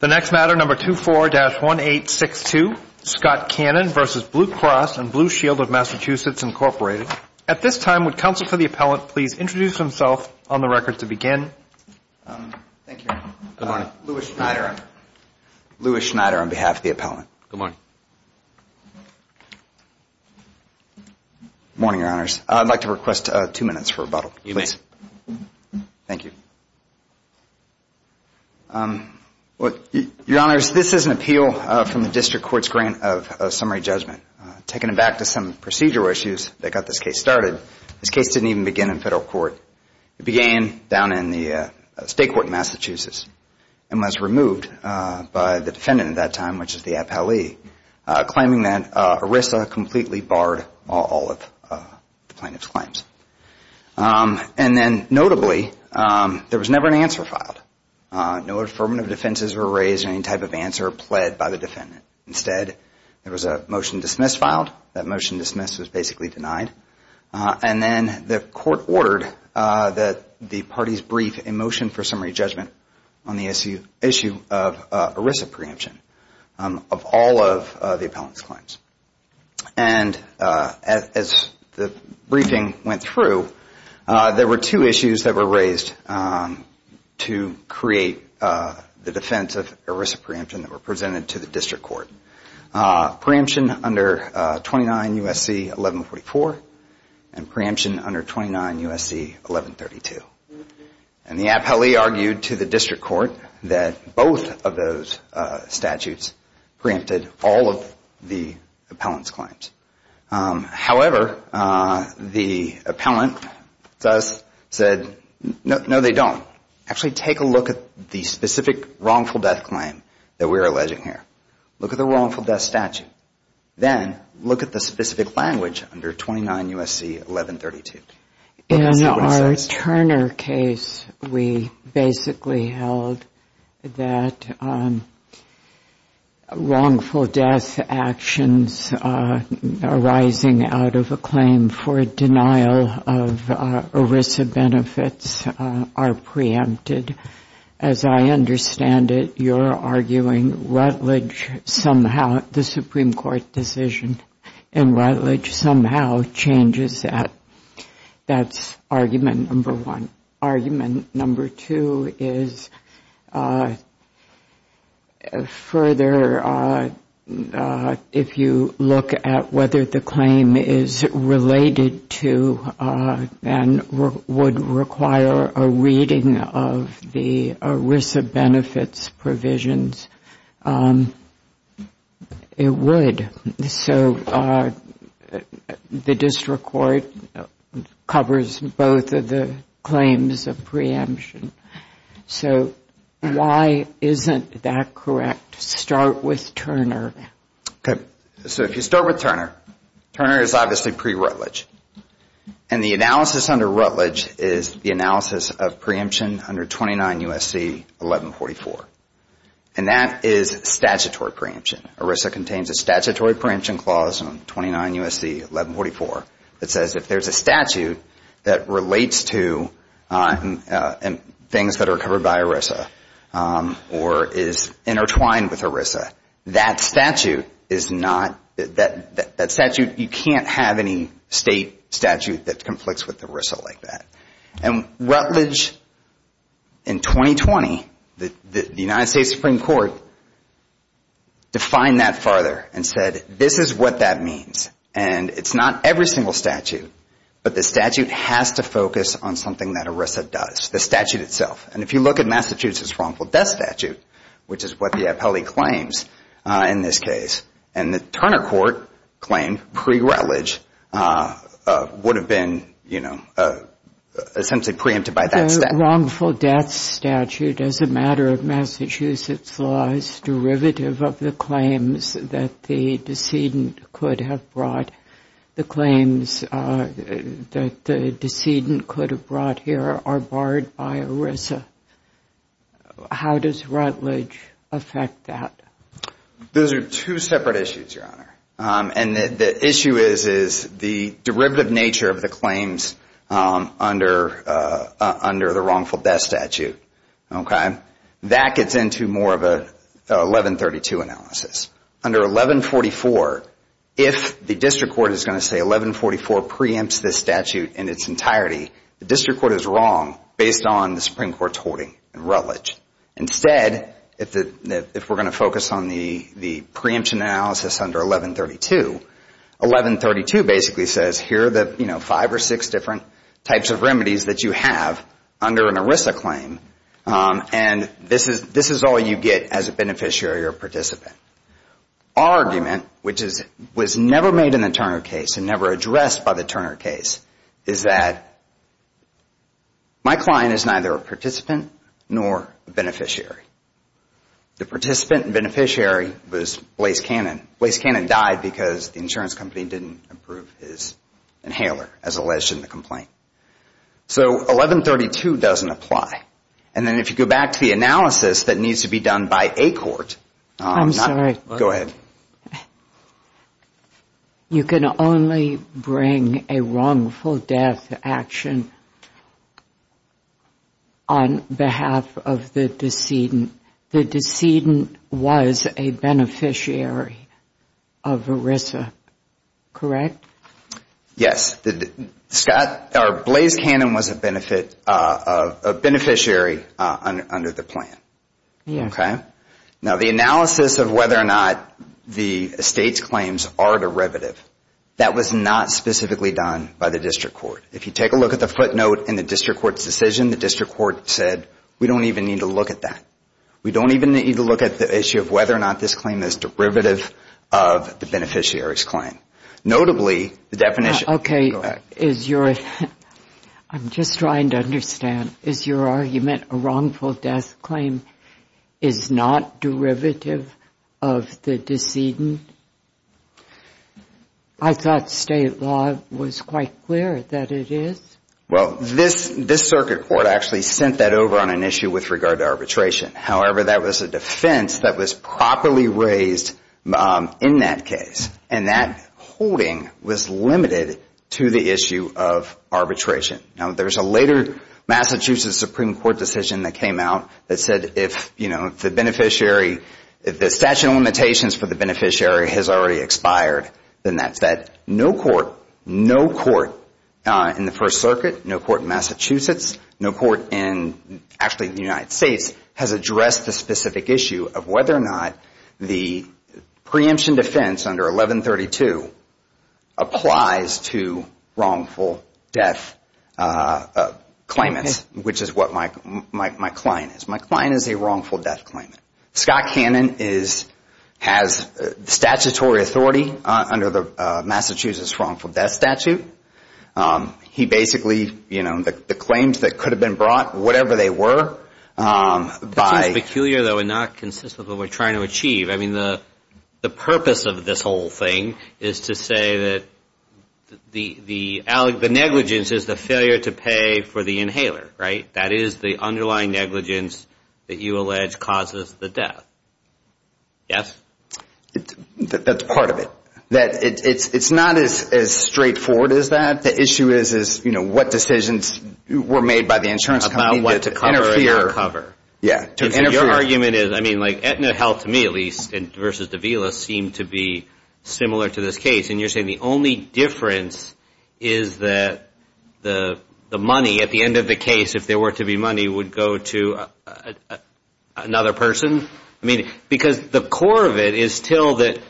The next matter, number 24-1862, Scott Cannon v. Blue Cross and Blue Shield of Massachusetts, Inc. At this time, would counsel for the appellant please introduce himself on the record to begin? Thank you, Your Honor. Good morning. Louis Schneider. Louis Schneider on behalf of the appellant. Good morning. Good morning, Your Honors. I'd like to request two minutes for rebuttal, please. You may. Thank you. Your Honors, this is an appeal from the District Court's grant of summary judgment. Taking it back to some procedural issues that got this case started, this case didn't even begin in federal court. It began down in the state court in Massachusetts and was removed by the defendant at that time, which is the appellee, claiming that ERISA completely barred all of the plaintiff's claims. And then, notably, there was never an answer filed. No affirmative defenses were raised or any type of answer pled by the defendant. Instead, there was a motion dismissed filed. That motion dismissed was basically denied. And then the court ordered that the parties brief a motion for summary judgment on the issue of ERISA preemption. Of all of the appellant's claims. And as the briefing went through, there were two issues that were raised to create the defense of ERISA preemption that were presented to the District Court. Preemption under 29 U.S.C. 1144 and preemption under 29 U.S.C. 1132. And the appellee argued to the District Court that both of those statutes preempted all of the appellant's claims. However, the appellant thus said, no, they don't. Actually, take a look at the specific wrongful death claim that we're alleging here. Look at the wrongful death statute. Then look at the specific language under 29 U.S.C. 1132. In our Turner case, we basically held that wrongful death actions arising out of a claim for denial of ERISA benefits are preempted. As I understand it, you're arguing Rutledge somehow, the Supreme Court decision in Rutledge somehow changes that. That's argument number one. Argument number two is further, if you look at whether the claim is related to and would require a reading of the ERISA benefits provisions, it would. So the District Court covers both of the claims of preemption. So why isn't that correct? Start with Turner. So if you start with Turner, Turner is obviously pre-Rutledge. And the analysis under Rutledge is the analysis of preemption under 29 U.S.C. 1144. And that is statutory preemption. ERISA contains a statutory preemption clause on 29 U.S.C. 1144 that says if there's a statute that relates to things that are covered by ERISA or is intertwined with ERISA, that statute is not, that statute, you can't have any state statute that conflicts with ERISA like that. And Rutledge in 2020, the United States Supreme Court defined that farther and said this is what that means. And it's not every single statute, but the statute has to focus on something that ERISA does, the statute itself. And if you look at Massachusetts' wrongful death statute, which is what the appellee claims in this case, and the Turner court claimed pre-Rutledge would have been, you know, essentially preempted by that statute. The wrongful death statute as a matter of Massachusetts law is derivative of the claims that the decedent could have brought. The claims that the decedent could have brought here are barred by ERISA. How does Rutledge affect that? Those are two separate issues, Your Honor. And the issue is the derivative nature of the claims under the wrongful death statute, okay? That gets into more of an 1132 analysis. Under 1144, if the district court is going to say 1144 preempts this statute in its entirety, the district court is wrong based on the Supreme Court's hoarding in Rutledge. Instead, if we're going to focus on the preemption analysis under 1132, 1132 basically says here are the, you know, five or six different types of remedies that you have under an ERISA claim, and this is all you get as a beneficiary or participant. Our argument, which was never made in the Turner case and never addressed by the Turner case, is that my client is neither a participant nor a beneficiary. The participant and beneficiary was Blase Cannon. Blase Cannon died because the insurance company didn't approve his inhaler as alleged in the complaint. So 1132 doesn't apply. And then if you go back to the analysis that needs to be done by a court. I'm sorry. Go ahead. You can only bring a wrongful death action on behalf of the decedent. The decedent was a beneficiary of ERISA, correct? Yes. Blase Cannon was a beneficiary under the plan. Yes. Okay. Now, the analysis of whether or not the estate's claims are derivative, that was not specifically done by the district court. If you take a look at the footnote in the district court's decision, the district court said we don't even need to look at that. We don't even need to look at the issue of whether or not this claim is derivative of the beneficiary's claim. Notably, the definition. Go ahead. I'm just trying to understand. Is your argument a wrongful death claim is not derivative of the decedent? I thought state law was quite clear that it is. Well, this circuit court actually sent that over on an issue with regard to arbitration. However, that was a defense that was properly raised in that case. And that holding was limited to the issue of arbitration. Now, there's a later Massachusetts Supreme Court decision that came out that said if, you know, the statutory limitations for the beneficiary has already expired, then that's that. No court, no court in the First Circuit, no court in Massachusetts, no court in actually the United States has addressed the specific issue of whether or not the preemption defense under 1132 applies to wrongful death claimants, which is what my client is. My client is a wrongful death claimant. Scott Cannon has statutory authority under the Massachusetts wrongful death statute. He basically, you know, the claims that could have been brought, whatever they were, by... This is peculiar, though, and not consistent with what we're trying to achieve. I mean, the purpose of this whole thing is to say that the negligence is the failure to pay for the inhaler, right? That is the underlying negligence that you allege causes the death. Yes? That's part of it. That it's not as straightforward as that. The issue is, you know, what decisions were made by the insurance company to cover... About what to cover and not cover. Yeah. Your argument is, I mean, like Aetna Health, to me at least, versus Davila, seem to be similar to this case, and you're saying the only difference is that the money at the end of the case, if there were to be money, would go to another person? I mean, because the core of it is still that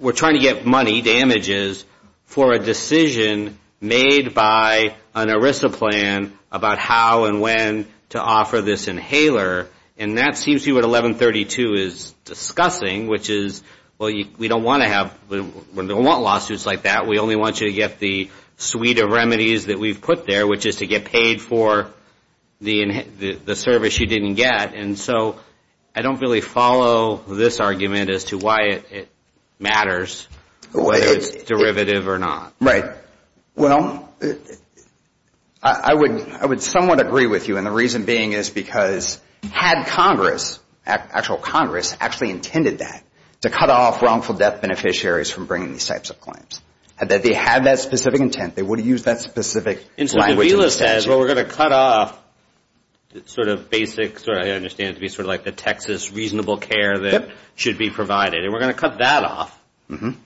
we're trying to get money, damages, for a decision made by an ERISA plan about how and when to offer this inhaler, and that seems to be what 1132 is discussing, which is, well, we don't want lawsuits like that. We only want you to get the suite of remedies that we've put there, which is to get paid for the service you didn't get. And so I don't really follow this argument as to why it matters, whether it's derivative or not. Right. Well, I would somewhat agree with you, and the reason being is because had Congress, actual Congress, actually intended that, to cut off wrongful death beneficiaries from bringing these types of claims. Had they had that specific intent, they would have used that specific plan. And VILA says, well, we're going to cut off sort of basics, or I understand it to be sort of like the Texas reasonable care that should be provided, and we're going to cut that off. And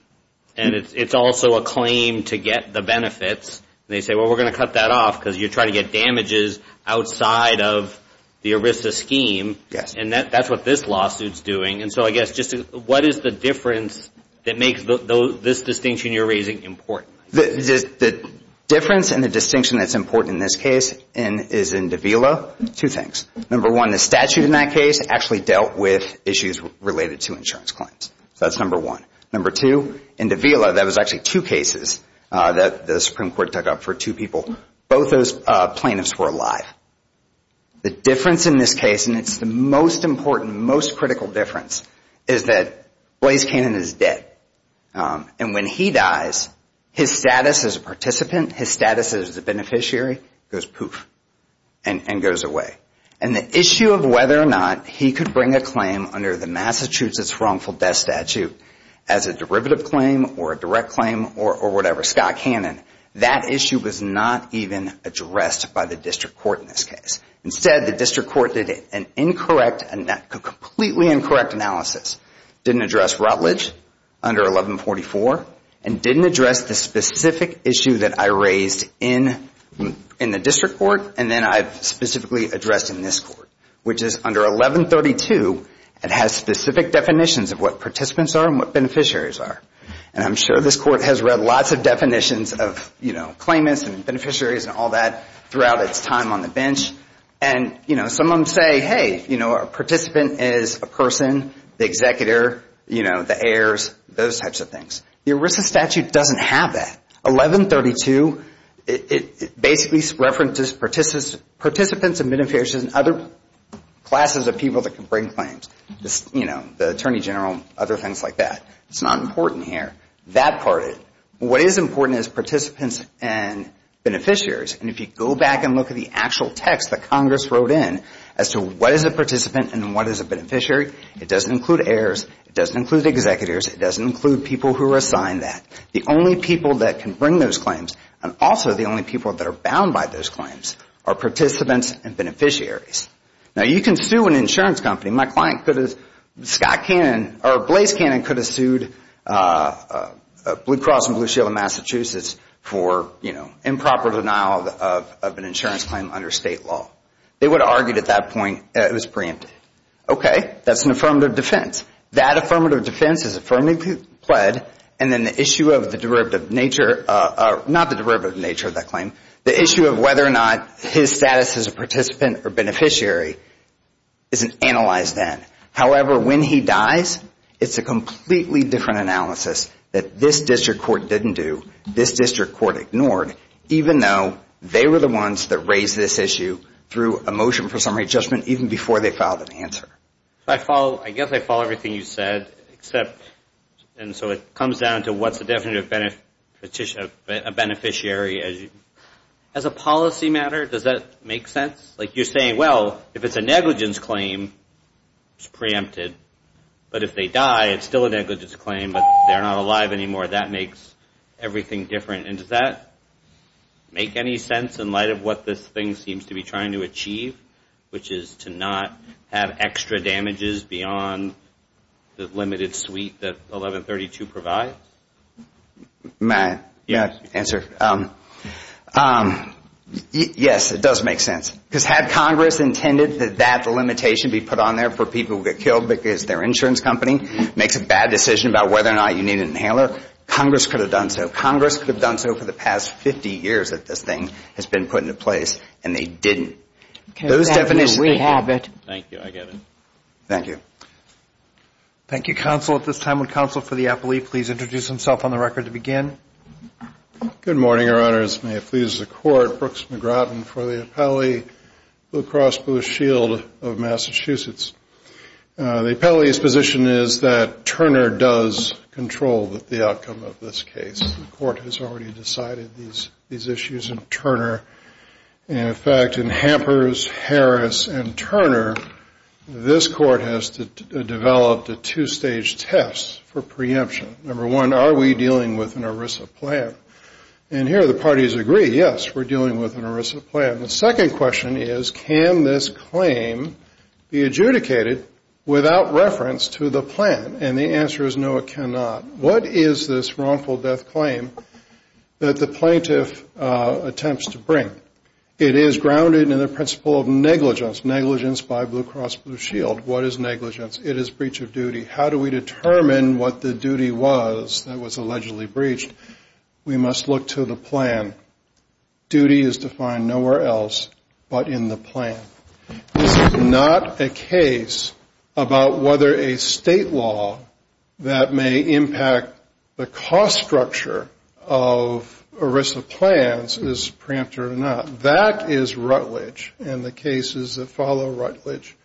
it's also a claim to get the benefits, and they say, well, we're going to cut that off because you're trying to get damages outside of the ERISA scheme, and that's what this lawsuit's doing. And so I guess just what is the difference that makes this distinction you're raising important? The difference and the distinction that's important in this case is in the VILA, two things. Number one, the statute in that case actually dealt with issues related to insurance claims. That's number one. Number two, in the VILA, that was actually two cases that the Supreme Court took up for two people. Both those plaintiffs were alive. The difference in this case, and it's the most important, most critical difference, is that Blaise Cannon is dead. And when he dies, his status as a participant, his status as a beneficiary goes poof and goes away. And the issue of whether or not he could bring a claim under the Massachusetts wrongful death statute as a derivative claim or a direct claim or whatever, Scott Cannon, that issue was not even addressed by the district court in this case. Instead, the district court did an incorrect, a completely incorrect analysis, didn't address Rutledge under 1144, and didn't address the specific issue that I raised in the district court, and then I specifically addressed in this court, which is under 1132, it has specific definitions of what participants are and what beneficiaries are. And I'm sure this court has read lots of definitions of claimants and beneficiaries and all that throughout its time on the bench. And, you know, some of them say, hey, you know, a participant is a person, the executor, you know, the heirs, those types of things. The ERISA statute doesn't have that. 1132, it basically references participants and beneficiaries and other classes of people that can bring claims, you know, the attorney general and other things like that. It's not important here. That part, what is important is participants and beneficiaries. And if you go back and look at the actual text that Congress wrote in as to what is a participant and what is a beneficiary, it doesn't include heirs, it doesn't include the executors, it doesn't include people who are assigned that. The only people that can bring those claims and also the only people that are bound by those claims are participants and beneficiaries. Now, you can sue an insurance company. My client could have, Scott Cannon or Blaze Cannon could have sued Blue Cross and Blue Shield of Massachusetts for, you know, improper denial of an insurance claim under state law. They would have argued at that point it was preempted. Okay, that's an affirmative defense. That affirmative defense is affirmatively pled, and then the issue of the derivative nature, not the derivative nature of that claim, the issue of whether or not his status as a participant or beneficiary isn't analyzed then. However, when he dies, it's a completely different analysis that this district court didn't do, this district court ignored, even though they were the ones that raised this issue through a motion for summary judgment even before they filed an answer. I guess I follow everything you said, except, and so it comes down to what's a definitive beneficiary. As a policy matter, does that make sense? Like you're saying, well, if it's a negligence claim, it's preempted, but if they die, it's still a negligence claim, but they're not alive anymore. That makes everything different. And does that make any sense in light of what this thing seems to be trying to achieve, which is to not have extra damages beyond the limited suite that 1132 provides? May I answer? Yes, it does make sense because had Congress intended that that limitation be put on there for people who get killed because their insurance company makes a bad decision about whether or not you need an inhaler, Congress could have done so. Congress could have done so for the past 50 years that this thing has been put into place, and they didn't. Okay. We have it. Thank you. I get it. Thank you. Thank you, counsel. At this time, would counsel for the appellee please introduce himself on the record to begin? Good morning, Your Honors. May it please the Court, Brooks McGrath for the Appellee Blue Cross Blue Shield of Massachusetts. The appellee's position is that Turner does control the outcome of this case. The Court has already decided these issues in Turner. In fact, in Hampers, Harris, and Turner, this Court has developed a two-stage test for preemption. Number one, are we dealing with an ERISA plan? And here the parties agree, yes, we're dealing with an ERISA plan. The second question is, can this claim be adjudicated without reference to the plan? And the answer is no, it cannot. What is this wrongful death claim that the plaintiff attempts to bring? It is grounded in the principle of negligence, negligence by Blue Cross Blue Shield. What is negligence? It is breach of duty. How do we determine what the duty was that was allegedly breached? We must look to the plan. Duty is defined nowhere else but in the plan. This is not a case about whether a state law that may impact the cost structure of ERISA plans is preemptive or not. That is Rutledge, and the cases that follow Rutledge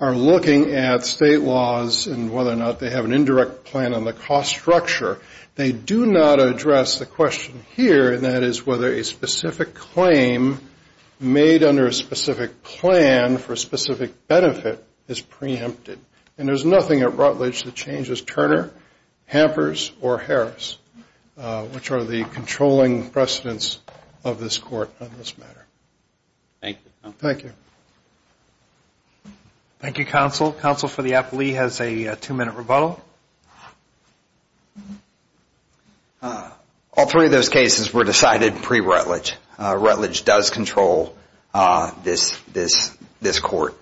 are looking at state laws and whether or not they have an indirect plan on the cost structure. They do not address the question here, and that is whether a specific claim made under a specific plan for a specific benefit is preempted. And there's nothing at Rutledge that changes Turner, Hampers, or Harris, which are the controlling precedents of this court on this matter. Thank you, counsel. Thank you. Thank you, counsel. Counsel for the appellee has a two-minute rebuttal. All three of those cases were decided pre-Rutledge. Rutledge does control this court.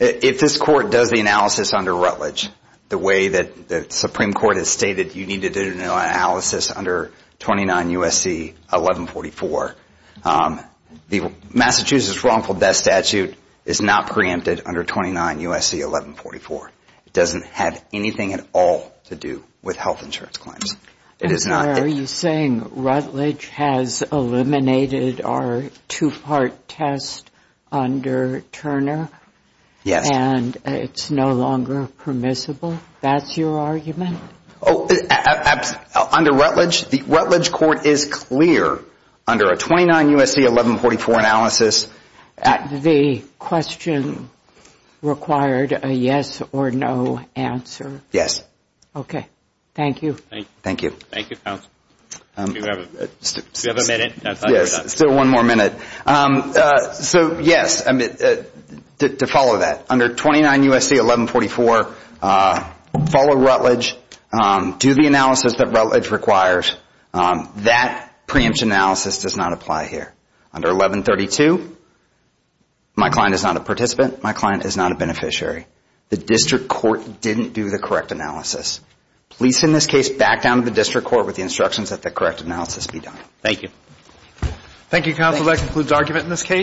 If this court does the analysis under Rutledge the way that the Supreme Court has stated you need to do an analysis under 29 USC 1144, Massachusetts wrongful death statute is not preempted under 29 USC 1144. It doesn't have anything at all to do with health insurance claims. It is not. Are you saying Rutledge has eliminated our two-part test under Turner? Yes. And it's no longer permissible? That's your argument? Under Rutledge, the Rutledge court is clear under a 29 USC 1144 analysis. The question required a yes or no answer. Okay. Thank you. Thank you. Thank you, counsel. Do we have a minute? Yes, still one more minute. So, yes, to follow that. Under 29 USC 1144, follow Rutledge. Do the analysis that Rutledge requires. That preempt analysis does not apply here. Under 1132, my client is not a participant. My client is not a beneficiary. The district court didn't do the correct analysis. Please send this case back down to the district court with the instructions that the correct analysis be done. Thank you. Thank you, counsel. That concludes argument in this case.